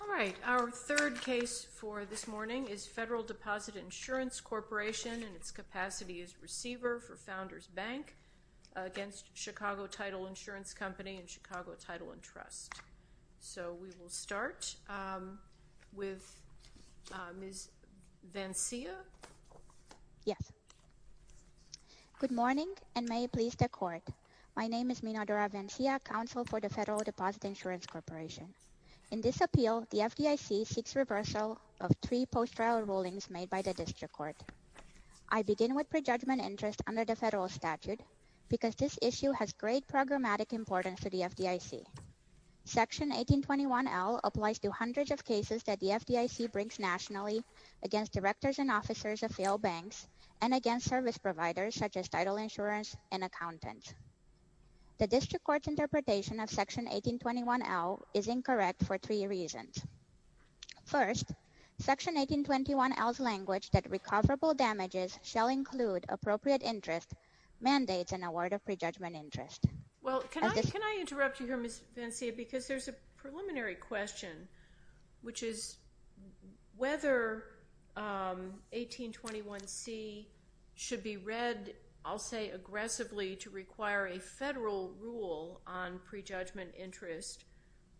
Alright, our third case for this morning is Federal Deposit Insurance Corporation and its capacity is receiver for Founders Bank against Chicago Title Insurance Company and Chicago Title and Trust. So we will start with Ms. Vancea. Yes. Good morning and may it please the court. My name is Minadora Vancea, counsel for the Federal Deposit Insurance Corporation. In this appeal, the FDIC seeks reversal of three post-trial rulings made by the district court. I begin with prejudgment interest under the federal statute because this issue has great programmatic importance to the FDIC. Section 1821L applies to hundreds of cases that the FDIC brings nationally against directors and officers of failed banks and against service providers such as title insurance and accountants. The district court's interpretation of Section 1821L is incorrect for three reasons. First, Section 1821L's language that recoverable damages shall include appropriate interest mandates an award of prejudgment interest. Well, can I interrupt you here, Ms. Vancea, because there's a preliminary question, which is whether 1821C should be read, I'll say aggressively, to require a federal rule on prejudgment interest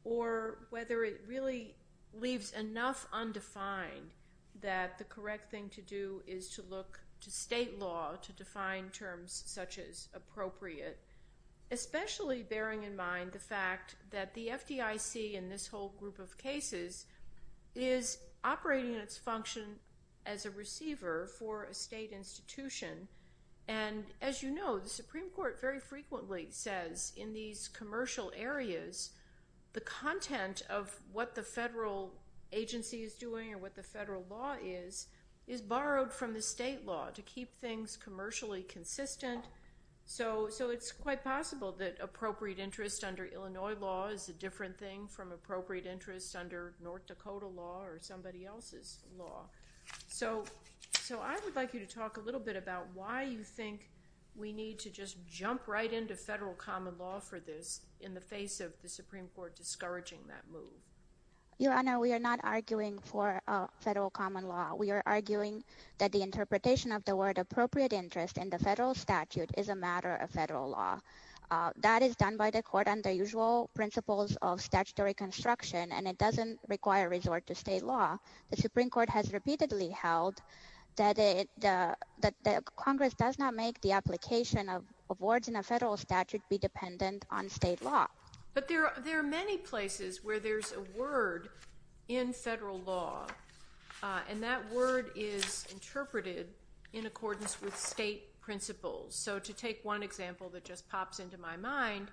or whether it really leaves enough undefined that the correct thing to do is to look to state law to define terms such as appropriate, especially bearing in mind the fact that the FDIC in this whole group of cases is operating its function as a receiver for a state institution. And as you know, the Supreme Court very frequently says in these commercial areas, the content of what the federal agency is doing or what the federal law is, is borrowed from the state law to keep things commercially consistent. So it's quite possible that appropriate interest under Illinois law is a different thing from appropriate interest under North Dakota law or somebody else's law. So I would like you to talk a little bit about why you think we need to just jump right into federal common law for this in the face of the Supreme Court discouraging that move. Your Honor, we are not arguing for federal common law. We are arguing that the interpretation of the word appropriate interest in the federal statute is a matter of federal law. That is under the usual principles of statutory construction and it doesn't require resort to state law. The Supreme Court has repeatedly held that Congress does not make the application of words in a federal statute be dependent on state law. But there are many places where there's a word in federal law and that word is interpreted in accordance with state principles. So to take one example that just pops into my mind,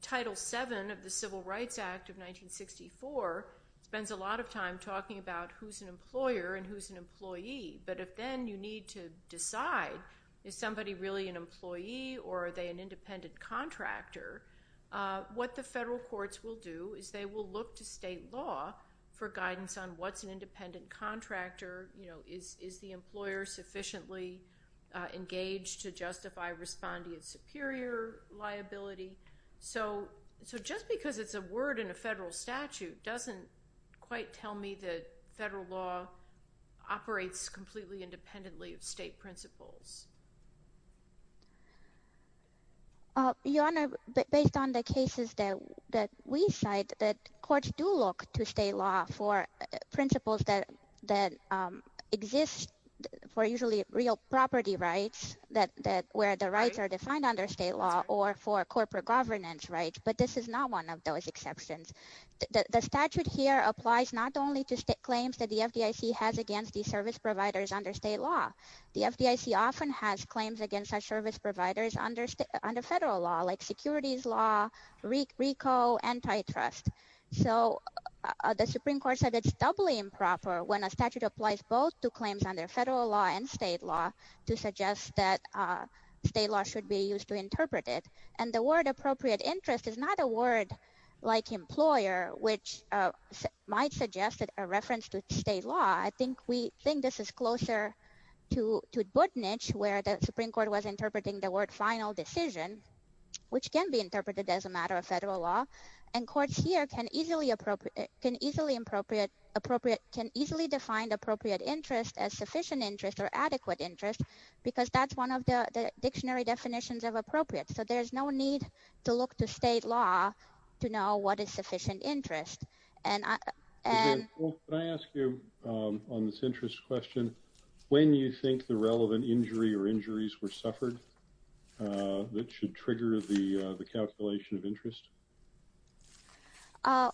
Title VII of the Civil Rights Act of 1964 spends a lot of time talking about who's an employer and who's an employee. But if then you need to decide is somebody really an employee or are they an independent contractor, what the federal courts will do is they will look to state law for guidance on what's an respondent superior liability. So just because it's a word in a federal statute doesn't quite tell me that federal law operates completely independently of state principles. Your Honor, based on the cases that we cite that courts do look to state law for principles that exist for usually real property rights where the rights are defined under state law or for corporate governance rights, but this is not one of those exceptions. The statute here applies not only to state claims that the FDIC has against these service providers under state law. The FDIC often has claims against such service providers under federal law like securities law, RICO, antitrust. So the Supreme Court said it's doubly improper when a statute applies both to claims under federal law and state law to suggest that state law should be used to interpret it. And the word appropriate interest is not a word like employer which might suggest a reference to state law. I think we think this is closer to Buttnich where the Supreme Court was interpreting the word final decision which can be interpreted as a matter of federal law. And courts here can easily define appropriate interest as sufficient interest or adequate interest because that's one of the dictionary definitions of appropriate. So there's no need to look to state law to know what is sufficient interest. And I... Can I ask you on this interest question, when you think the that should trigger the calculation of interest?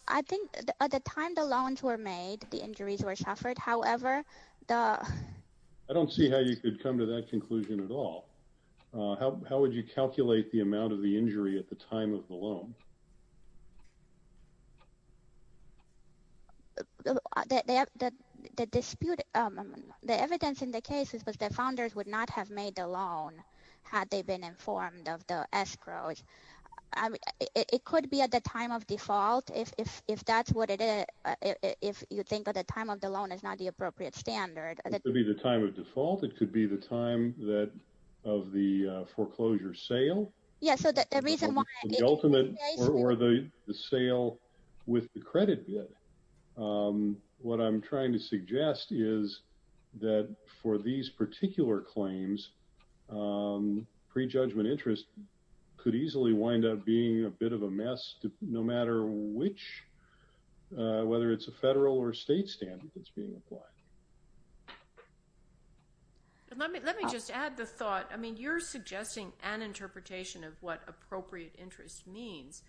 I think at the time the loans were made the injuries were suffered. However, the... I don't see how you could come to that conclusion at all. How would you calculate the amount of the injury at the time of the loan? The dispute, the evidence in the case is that the founders would not have made the loan had they been informed of the escrow. It could be at the time of default, if that's what it is. If you think that the time of the loan is not the appropriate standard. It could be the time of default. It could be the time that of the foreclosure sale. Yeah, so the reason why... The ultimate or the sale with the credit bid. What I'm trying to suggest is that for these particular claims, pre-judgment interest could easily wind up being a bit of a mess, no matter which, whether it's a federal or state standard that's being applied. Let me just add the thought. I mean, you're suggesting an interpretation of what appropriate interest means.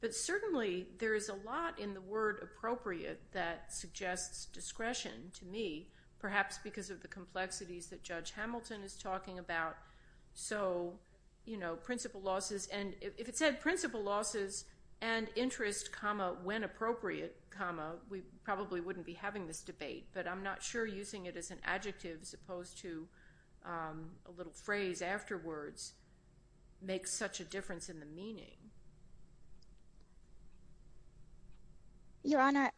But certainly there is a lot in the word appropriate that suggests discretion to me, perhaps because of the complexities that Judge Hamilton is talking about. If it said principal losses and interest, when appropriate, we probably wouldn't be having this debate. But I'm not sure using it as an adjective, as opposed to a little phrase afterwards, makes such a difference in the meaning. Your Honor,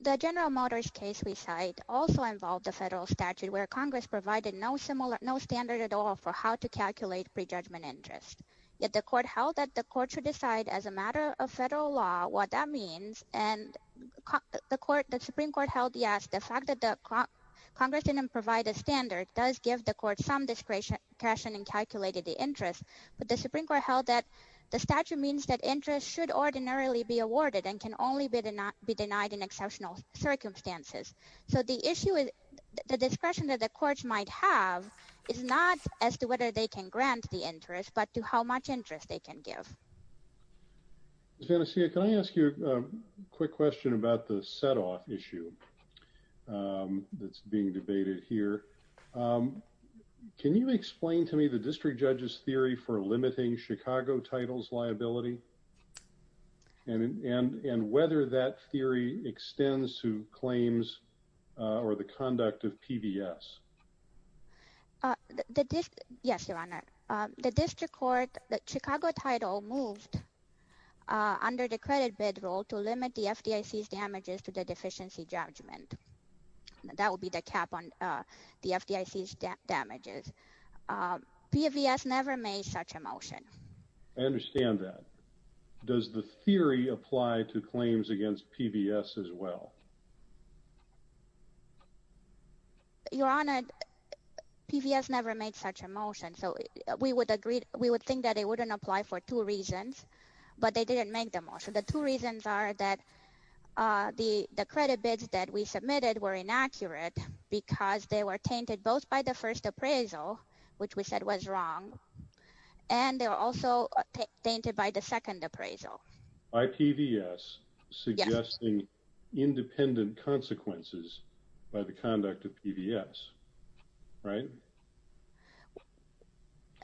the General Motors case we cite also involved a federal statute where Congress provided no standard at all for how to calculate pre-judgment interest. Yet the court held that the court should decide as a matter of federal law what that means. And the Supreme Court held, yes, the fact that Congress didn't provide a standard does give the court some discretion in calculating the interest. But the Supreme Court held that the statute means that interest should ordinarily be awarded and can only be denied in exceptional circumstances. So the issue is the discretion that the courts might have is not as to whether they can grant the interest, but to how much interest they can give. Ms. Vannessia, can I ask you a quick question about the setoff issue that's being debated here? Can you explain to me the district judge's theory for limiting Chicago titles liability and whether that theory extends to claims or the conduct of PVS? Yes, Your Honor. The district court, the Chicago title moved under the credit bid rule to limit the FDIC's damages to the deficiency judgment. That would be the cap on the FDIC's damages. PVS never made such a motion. I understand that. Does the theory apply to claims against PVS as well? Your Honor, PVS never made such a motion. So we would agree, we would think that it wouldn't apply for two reasons, but they didn't make the motion. The two reasons are that the credit bids that we submitted were inaccurate because they were both tainted by the first appraisal, which we said was wrong, and they were also tainted by the second appraisal. By PVS suggesting independent consequences by the conduct of PVS, right?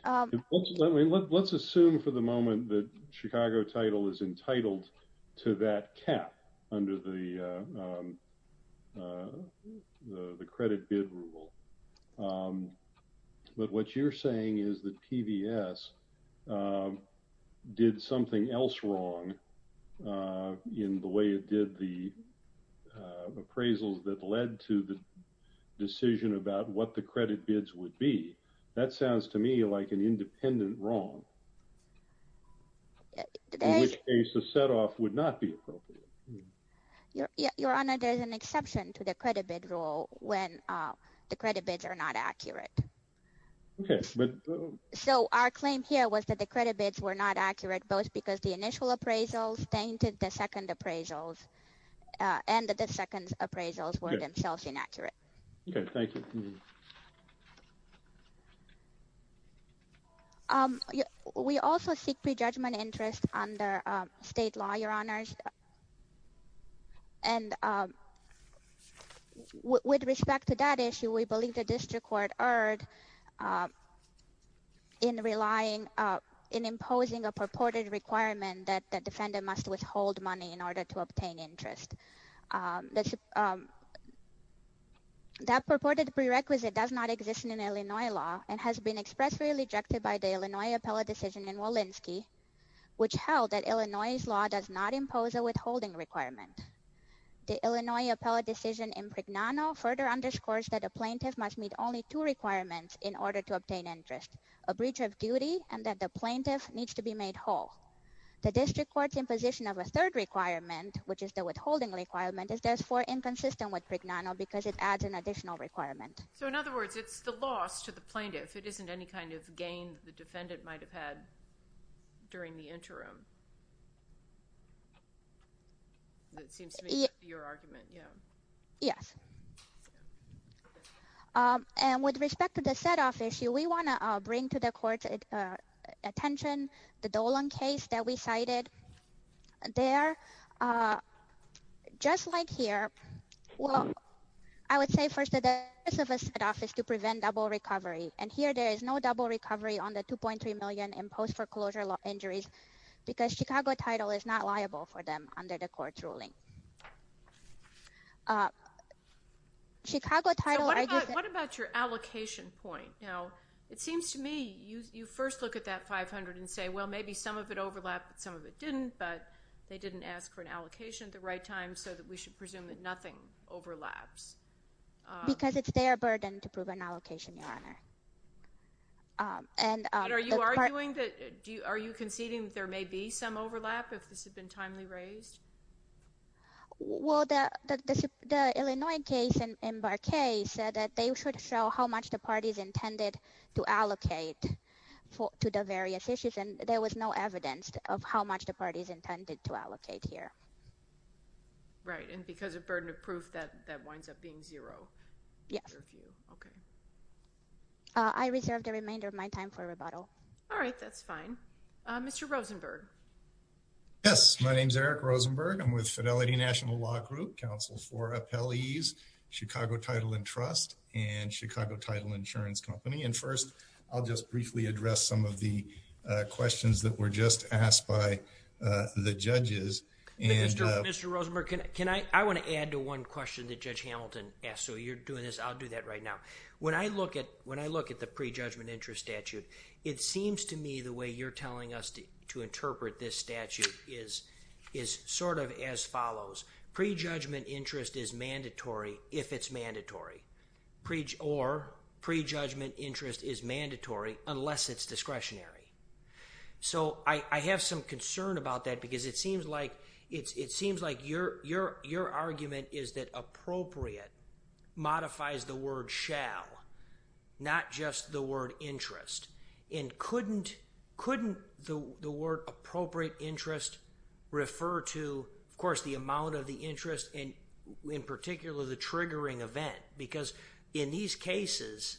Let's assume for the moment that Chicago title is entitled to that cap under the credit bid rule. But what you're saying is that PVS did something else wrong in the way it did the appraisals that led to the decision about what the credit bids would be. That sounds to me like an independent wrong, in which case a setoff would not be appropriate. Your Honor, there's exception to the credit bid rule when the credit bids are not accurate. So our claim here was that the credit bids were not accurate, both because the initial appraisals tainted the second appraisals and that the second appraisals were themselves inaccurate. Okay, thank you. We also seek pre-judgment interest under state law, Your Honors. And with respect to that issue, we believe the district court erred in relying, in imposing a purported requirement that the defendant must withhold money in order to obtain interest. That purported pre-judgment interest is only valid if the defendant has not imposed a withholding requirement. This requisite does not exist in Illinois law and has been expressly rejected by the Illinois appellate decision in Walensky, which held that Illinois's law does not impose a withholding requirement. The Illinois appellate decision in Prignano further underscores that a plaintiff must meet only two requirements in order to obtain interest, a breach of duty, and that the plaintiff needs to be made whole. The district court's imposition of So in other words, it's the loss to the plaintiff. It isn't any kind of gain the defendant might have had during the interim. That seems to be your argument, yeah. Yes. And with respect to the set-off issue, we want to bring to the court's attention the Dolan case that cited there. Just like here, well, I would say first that the purpose of a set-off is to prevent double recovery, and here there is no double recovery on the $2.3 million imposed foreclosure injuries because Chicago title is not liable for them under the court's ruling. Chicago title... So what about your allocation point? You know, it seems to me you first look at that $500,000 and say, well, maybe some of it overlapped, some of it didn't, but they didn't ask for an allocation at the right time so that we should presume that nothing overlaps. Because it's their burden to prove an allocation, Your Honor. And are you arguing that, are you conceding that there may be some overlap if this had been timely raised? Well, the Illinois case and Barkay said that they should show how much the parties intended to allocate to the various issues, and there was no evidence of how much the parties intended to allocate here. Right, and because of burden of proof, that winds up being zero. Yes. Okay. I reserve the remainder of my time for rebuttal. All right, that's fine. Mr. Rosenberg. Yes, my name is Eric Rosenberg. I'm with Fidelity National Law Group, counsel for appellees, Chicago Title and Trust, and Chicago Title Insurance Company. And first, I'll just briefly address some of the questions that were just asked by the judges. Mr. Rosenberg, can I, I want to add to one question that Judge Hamilton asked, so you're doing this, I'll do that right now. When I look at the pre-judgment interest statute, it seems to me the way you're telling us to interpret this statute is sort of as follows. Pre-judgment interest is mandatory if it's mandatory, or pre-judgment interest is mandatory unless it's discretionary. So I have some concern about that because it seems like your argument is that appropriate modifies the word shall, not just the word interest. And couldn't the word interest refer to, of course, the amount of the interest and in particular the triggering event? Because in these cases,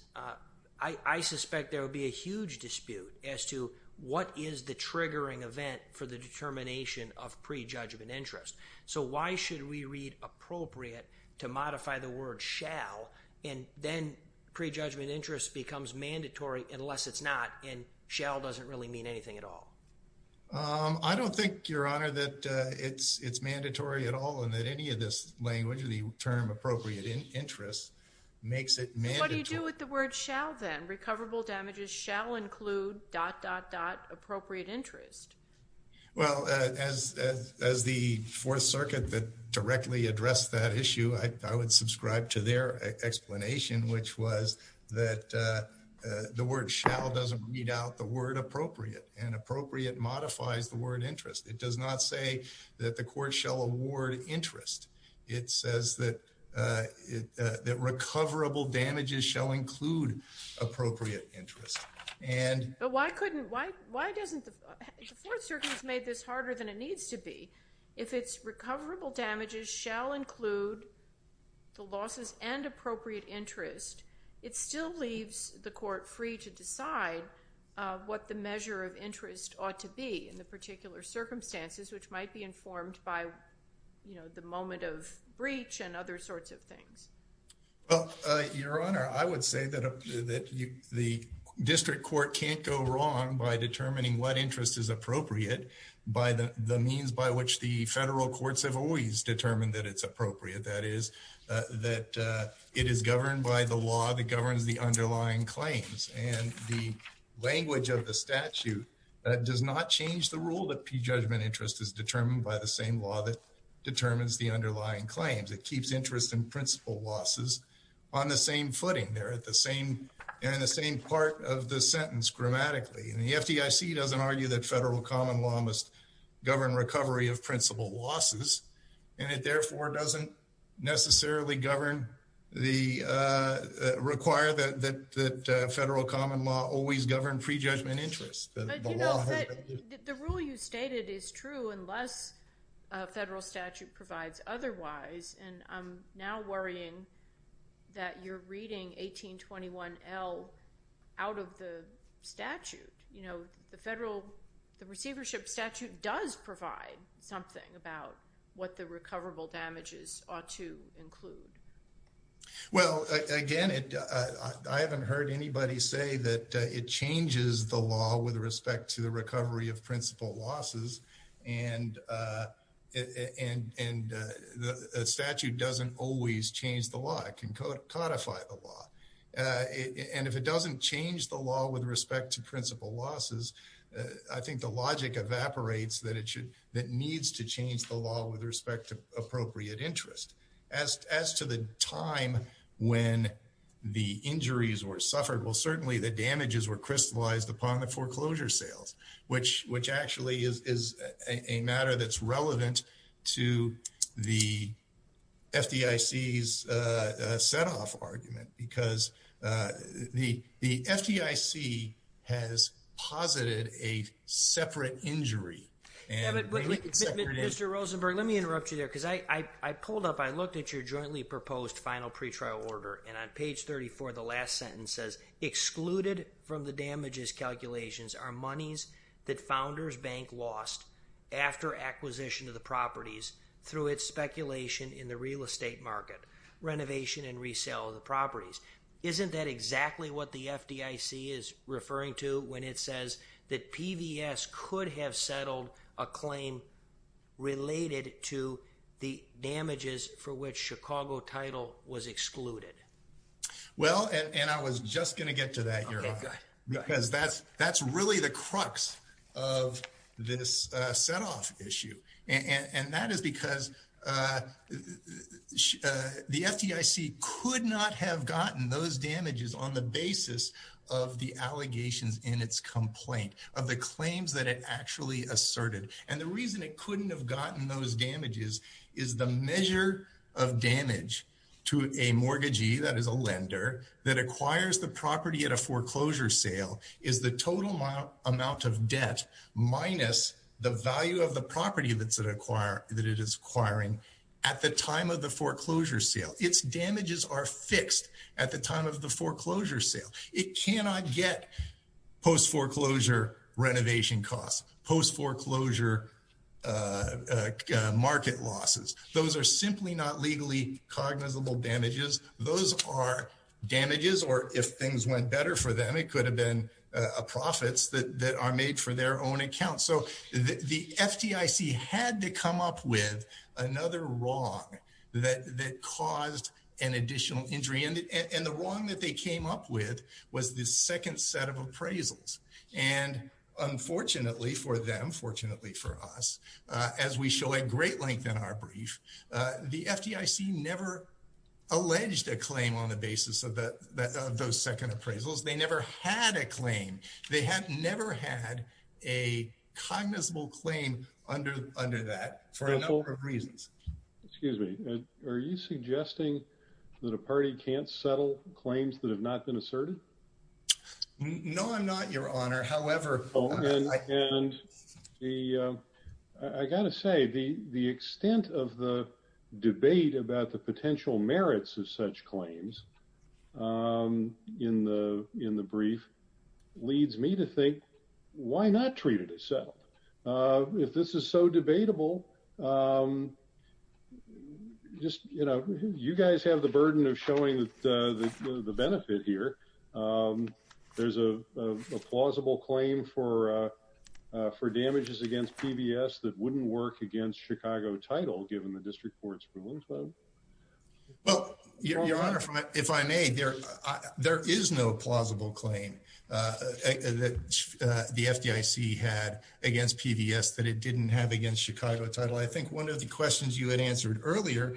I suspect there would be a huge dispute as to what is the triggering event for the determination of pre-judgment interest. So why should we read appropriate to modify the word shall, and then pre-judgment interest becomes mandatory unless it's not, and shall doesn't really mean anything at all. I don't think, Your Honor, that it's mandatory at all, and that any of this language, the term appropriate interest, makes it mandatory. But what do you do with the word shall, then? Recoverable damages shall include dot, dot, dot, appropriate interest. Well, as the Fourth Circuit that directly addressed that issue, I would subscribe to their explanation, which was that the word shall doesn't read out the word appropriate, and appropriate modifies the word interest. It does not say that the court shall award interest. It says that recoverable damages shall include appropriate interest. But why couldn't, why doesn't, the Fourth Circuit has made this harder than it needs to be. If it's recoverable damages shall include the losses and appropriate interest, it still leaves the court free to decide what the measure of interest ought to be in the particular circumstances, which might be informed by, you know, the moment of breach and other sorts of things. Well, Your Honor, I would say that the district court can't go wrong by determining what interest is appropriate by the means by which the federal courts have always determined interest is appropriate. That is, that it is governed by the law that governs the underlying claims. And the language of the statute does not change the rule that prejudgment interest is determined by the same law that determines the underlying claims. It keeps interest in principal losses on the same footing. They're at the same, they're in the same part of the sentence grammatically. And the FDIC doesn't argue that federal common law must govern recovery of principal losses, and it therefore doesn't necessarily govern the, require that federal common law always govern prejudgment interest. But, you know, the rule you stated is true unless a federal statute provides otherwise, and I'm now worrying that you're reading 1821L out of the statute. You know, the federal, the receivership statute does provide something about what the recoverable damages ought to include. Well, again, I haven't heard anybody say that it changes the law with respect to the recovery of principal losses, and the statute doesn't always change the law. It can codify the law. And if it doesn't change the law with respect to principal losses, I think the logic evaporates that it should, that needs to change the law with respect to appropriate interest. As to the time when the injuries were suffered, well, certainly the damages were crystallized upon the foreclosure sales, which actually is a matter that's relevant to the FDIC's set-off argument, because the FDIC has posited a separate injury. Mr. Rosenberg, let me interrupt you there, because I pulled up, I looked at your jointly proposed final pretrial order, and on page 34, the last sentence says, excluded from the damages calculations are monies that founders bank lost after acquisition of the properties through its speculation in the real estate market, renovation and resale of the properties. Isn't that exactly what the FDIC is referring to when it says that PVS could have settled a claim related to the damages for which Chicago title was excluded? Well, and I was just going to get to that, because that's really the crux of this set-off issue. And that is because the FDIC could not have gotten those damages on the basis of the allegations in its complaint, of the claims that it actually asserted. And the reason it couldn't have gotten those damages is the measure of damage to a mortgagee, that is a lender, that acquires the property at a foreclosure sale is the total amount of debt minus the value of the property that it is acquiring at the time of the foreclosure sale. Its damages are fixed at the time of the foreclosure sale. It cannot get post-foreclosure renovation costs, post-foreclosure market losses. Those are simply not legally cognizable damages. Those are damages, or if things went better for them, it could have been profits that are made for their own account. So the FDIC had to come up with another wrong that caused an additional injury. And the wrong that they came up with was the second set of appraisals. And unfortunately for them, fortunately for us, as we show at great length in our brief, the FDIC never alleged a claim on the basis of those second appraisals. They never had a claim. They have never had a cognizable claim under that for a number of reasons. Excuse me, are you suggesting that a party can't settle claims that have not been asserted? No, I'm not, your honor. However, and I gotta say the extent of the debate about the potential in the brief leads me to think, why not treat it as settled? If this is so debatable, just, you know, you guys have the burden of showing the benefit here. There's a plausible claim for damages against PBS that wouldn't work against Chicago title, given the district court's rulings. Well, your honor, if I may, there, there is no plausible claim that the FDIC had against PBS that it didn't have against Chicago title. I think one of the questions you had answered earlier,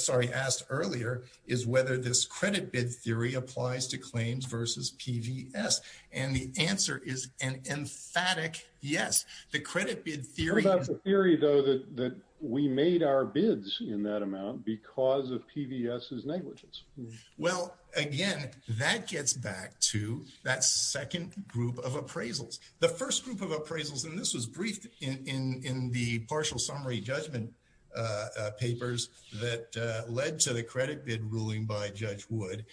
sorry, asked earlier is whether this credit bid theory applies to claims versus PBS. And the answer is an emphatic, yes, the credit bid theory theory though, that we made our bids in that amount because of PBS is negligence. Well, again, that gets back to that second group of appraisals, the first group of appraisals. And this was briefed in, in, in the partial summary judgment papers that led to the credit bid ruling by judge would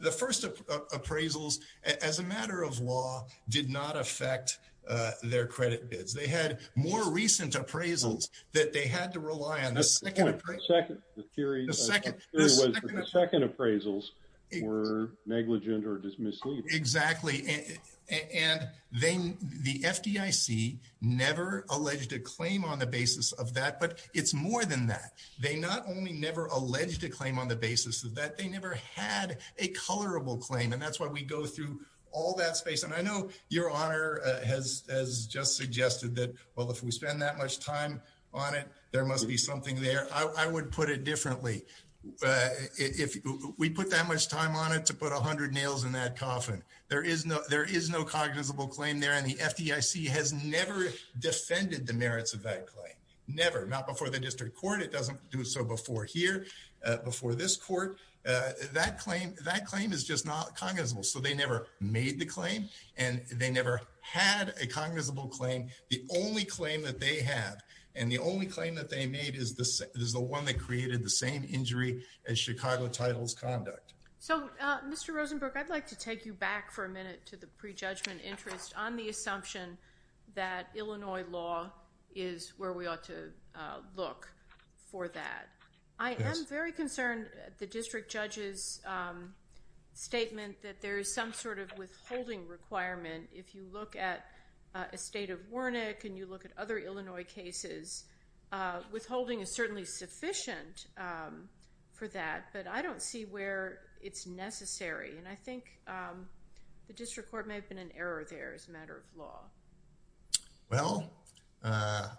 the first appraisals as a matter of law did not affect their credit bids. They had more recent appraisals that they had to rely on. The second appraisals were negligent or dismissed. Exactly. And they, the FDIC never alleged a claim on the basis of that, but it's more than that. They not only never alleged a claim on the basis of that, they never had a colorable claim. And that's why we go through all that space. And I know your honor has, has just suggested that, well, if we spend that much time on it, there must be something there. I would put it differently. If we put that much time on it to put a hundred nails in that coffin, there is no, there is no cognizable claim there. And the FDIC has never defended the merits of that claim. Never, not before the district court. It doesn't do so before here, before this court, that claim, that claim is just not cognizable. So they never made the claim and they never had a cognizable claim. The only claim that they have and the only claim that they made is the, is the one that created the same injury as Chicago titles conduct. So Mr. Rosenberg, I'd like to take you back for a minute to the prejudgment interest on the assumption that Illinois law is where we ought to look for that. I am very concerned at the district judge's statement that there is some sort of withholding requirement. If you look at a state of Wernick and you look at other Illinois cases, withholding is certainly sufficient for that, but I don't see where it's necessary. And I think the district court may have been an error there as a matter of law. Well,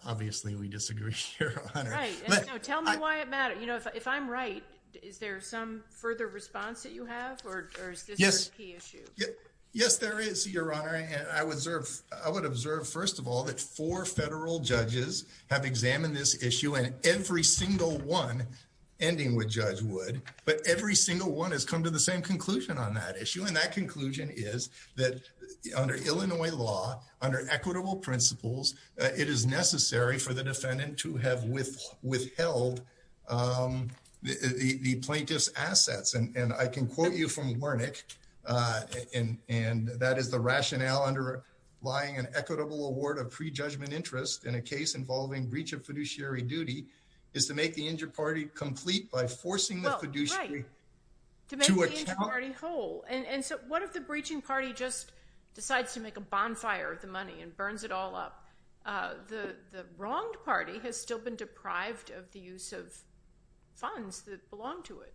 obviously we disagree here, your honor. Right. Tell me why it matters. You know, if I'm right, is there some further response that you have or is this a key issue? Yes, there is your honor. And I would observe, I would observe first of all, that four federal judges have examined this issue and every single one ending with judge would, but every single one has come to the same conclusion on that issue. And that conclusion is that under Illinois law, under equitable principles, it is necessary for the defendant to have with withheld the plaintiff's assets. And I can quote you from Wernick, and that is the rationale underlying an equitable award of pre-judgment interest in a case involving breach of fiduciary duty is to make the injured party complete by forcing the fiduciary... Well, right. To make the injured party whole. And so what if the breaching party just decides to make a bonfire of the money and burns it all up? The wronged party has still been deprived of the use of funds that belong to it.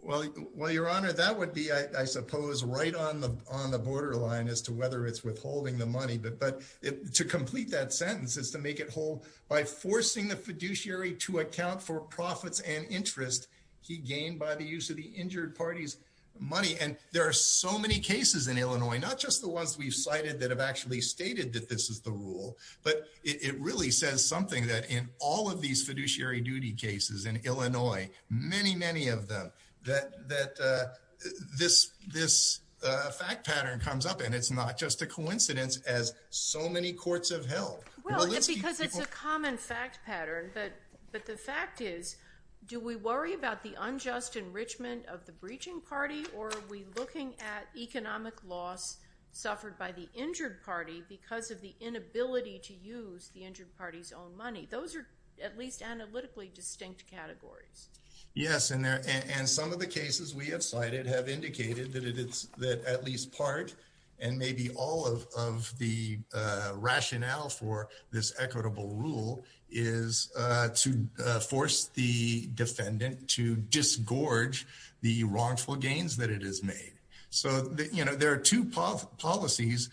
Well, your honor, that would be, I suppose, right on the borderline as to whether it's withholding the money, but to complete that sentence is to make it whole by forcing the fiduciary to account for profits and interest he gained by the use of the injured party's money. And there are so many cases in Illinois, not just the ones we've cited that have actually stated that this is the rule, but it really says something that in all of these fiduciary duty cases in Illinois, many, many of them, that this fact pattern comes up and it's not just a coincidence as so many courts have held. Well, and because it's a common fact pattern, but the fact is, do we worry about the unjust enrichment of the breaching party or are we looking at economic loss suffered by the injured party because of the inability to use the injured party's own money? Those are at least analytically distinct categories. Yes, and some of the cases we have cited have indicated that at least part and maybe all of the rationale for this equitable rule is to force the defendant to disgorge the wrongful gains that it has made. So, you know, there are two policies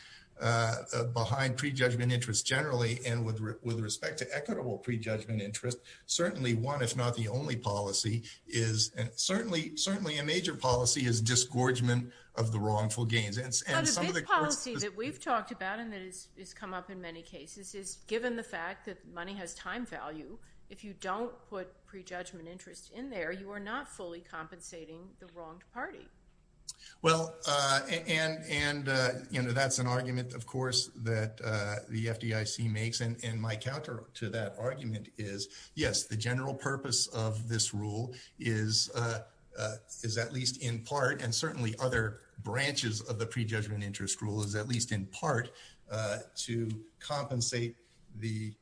behind prejudgment interest generally, and with respect to equitable prejudgment interest, certainly one, if not the only policy is, and certainly a major policy, is disgorgement of the wrongful gains. And some of the courts... But a big policy that we've talked about and that has come up in many cases is, given the fact that money has time value, if you don't put prejudgment interest in there, you are not fully compensating the wronged party. Well, and, you know, that's an argument, of course, that the FDIC makes, and my counter to that argument is, yes, the general purpose of this rule is at least in part, and certainly other branches of the prejudgment interest rule is at least in part to compensate the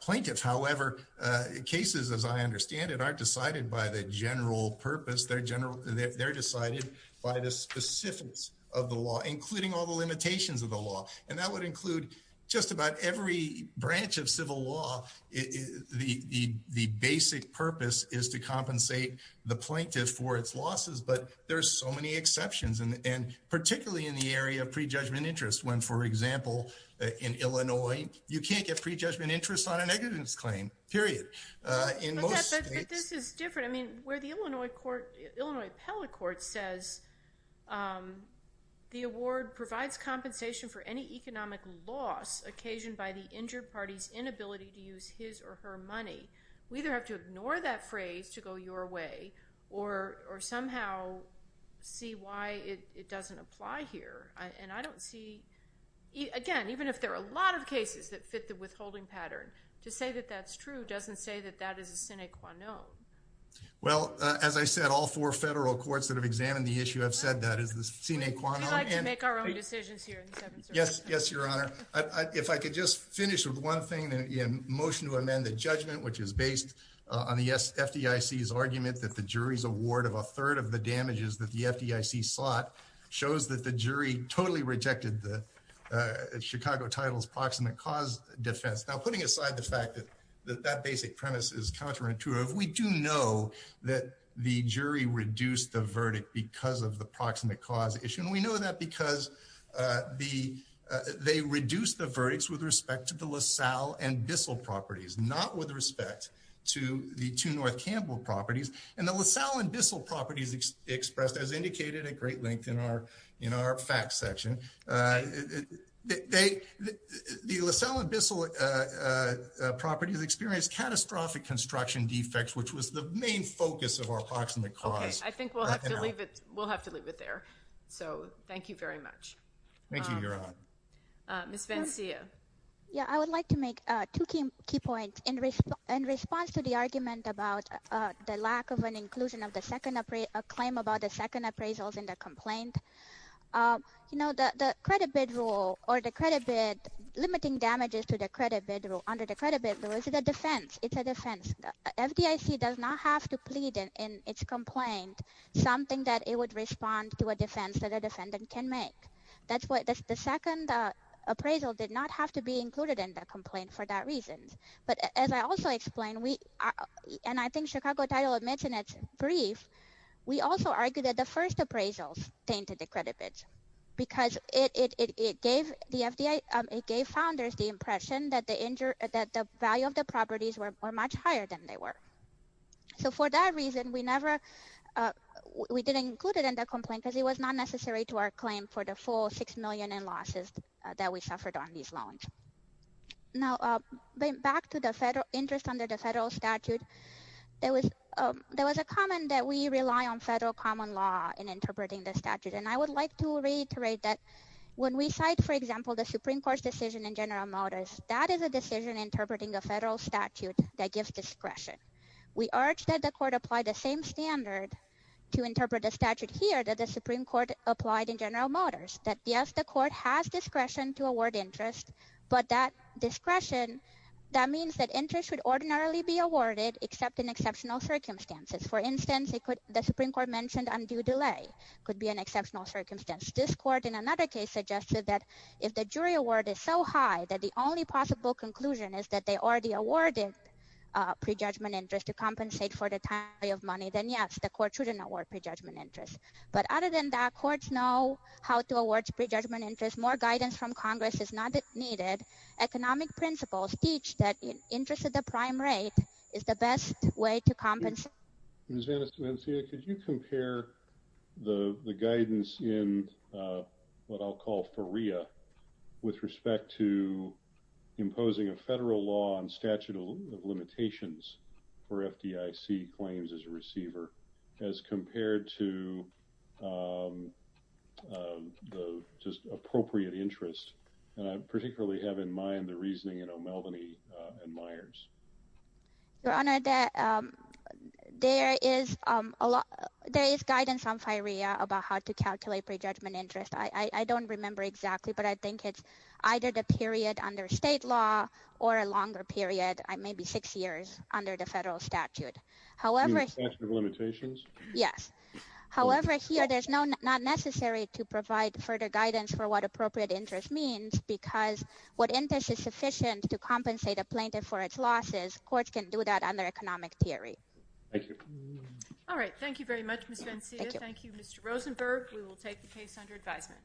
plaintiff. However, cases, as I understand it, aren't decided by the general purpose. They're decided by the specifics of the law, including all the limitations of the law, and that would include just about every branch of civil law. The basic purpose is to compensate the plaintiff for its losses, but there's so many exceptions, and particularly in the area of prejudgment interest, when, for example, in Illinois, you can't get prejudgment interest on a negligence claim, period. But this is different. I mean, where the Illinois court, Illinois appellate court says, the award provides compensation for any economic loss occasioned by the injured party's inability to use his or her money, we either have to ignore that phrase to go your way, or somehow see why it doesn't apply here. And I don't see, again, even if there are a lot of cases that fit the withholding pattern, to say that that's true doesn't say that that is a sine qua non. Well, as I said, all four federal courts that have examined the issue have said that is the sine qua non. We like to make our own decisions here. Yes, yes, your honor. If I could just finish with one thing, the motion to amend the judgment, which is based on the FDIC's argument that the jury's damages that the FDIC sought shows that the jury totally rejected the Chicago title's proximate cause defense. Now, putting aside the fact that that basic premise is counterintuitive, we do know that the jury reduced the verdict because of the proximate cause issue. And we know that because they reduced the verdicts with respect to the LaSalle and Bissell properties, not with respect to the two North Campbell properties. And the LaSalle and Bissell properties expressed, as indicated at great length in our facts section, the LaSalle and Bissell properties experienced catastrophic construction defects, which was the main focus of our proximate cause. Okay, I think we'll have to leave it there. So, thank you very much. Thank you, your honor. Ms. Valencia. Yeah, I would like to make two key points. In response to the argument about the lack of an inclusion of a claim about the second appraisals in the complaint, you know, the credit bid rule or the credit bid limiting damages to the credit bid rule, under the credit bid rule, is a defense. It's a defense. FDIC does not have to plead in its complaint something that it would respond to a defense that a defendant can make. That's why the second appraisal did not have to be included in the complaint for that reason. As I also explained, and I think Chicago Title admits in its brief, we also argued that the first appraisals tainted the credit bids because it gave the FDIC, it gave founders the impression that the value of the properties were much higher than they were. So, for that reason, we never, we didn't include it in the complaint because it was not necessary to our claim for the full million in losses that we suffered on these loans. Now, back to the federal interest under the federal statute, there was a comment that we rely on federal common law in interpreting the statute. And I would like to reiterate that when we cite, for example, the Supreme Court's decision in General Motors, that is a decision interpreting a federal statute that gives discretion. We urge that the court apply the same standard to interpret the statute here that the Supreme Court applied in General Motors, that yes, the court has discretion to award interest, but that discretion, that means that interest would ordinarily be awarded except in exceptional circumstances. For instance, the Supreme Court mentioned undue delay could be an exceptional circumstance. This court in another case suggested that if the jury award is so high that the only possible conclusion is that they already awarded prejudgment interest to compensate for the time of money, then yes, the court shouldn't award prejudgment interest. But other than that, courts know how to award prejudgment interest. More guidance from Congress is not needed. Economic principles teach that interest at the prime rate is the best way to compensate. Ms. Anastasiadis, could you compare the guidance in what I'll call FERIA with respect to imposing a federal law on statute of limitations for FDIC claims as a receiver as compared to the just appropriate interest? And I particularly have in mind the reasoning in O'Melveny and Myers. Your Honor, there is guidance on FERIA about how to calculate prejudgment interest. I don't remember exactly, but I think it's either the period under state law or a longer period. Six years under the federal statute. However, there's no not necessary to provide further guidance for what appropriate interest means because what interest is sufficient to compensate a plaintiff for its losses, courts can do that under economic theory. Thank you. All right. Thank you very much, Ms. Anastasiadis. Thank you, Mr. Rosenberg. We will take the case under advisement.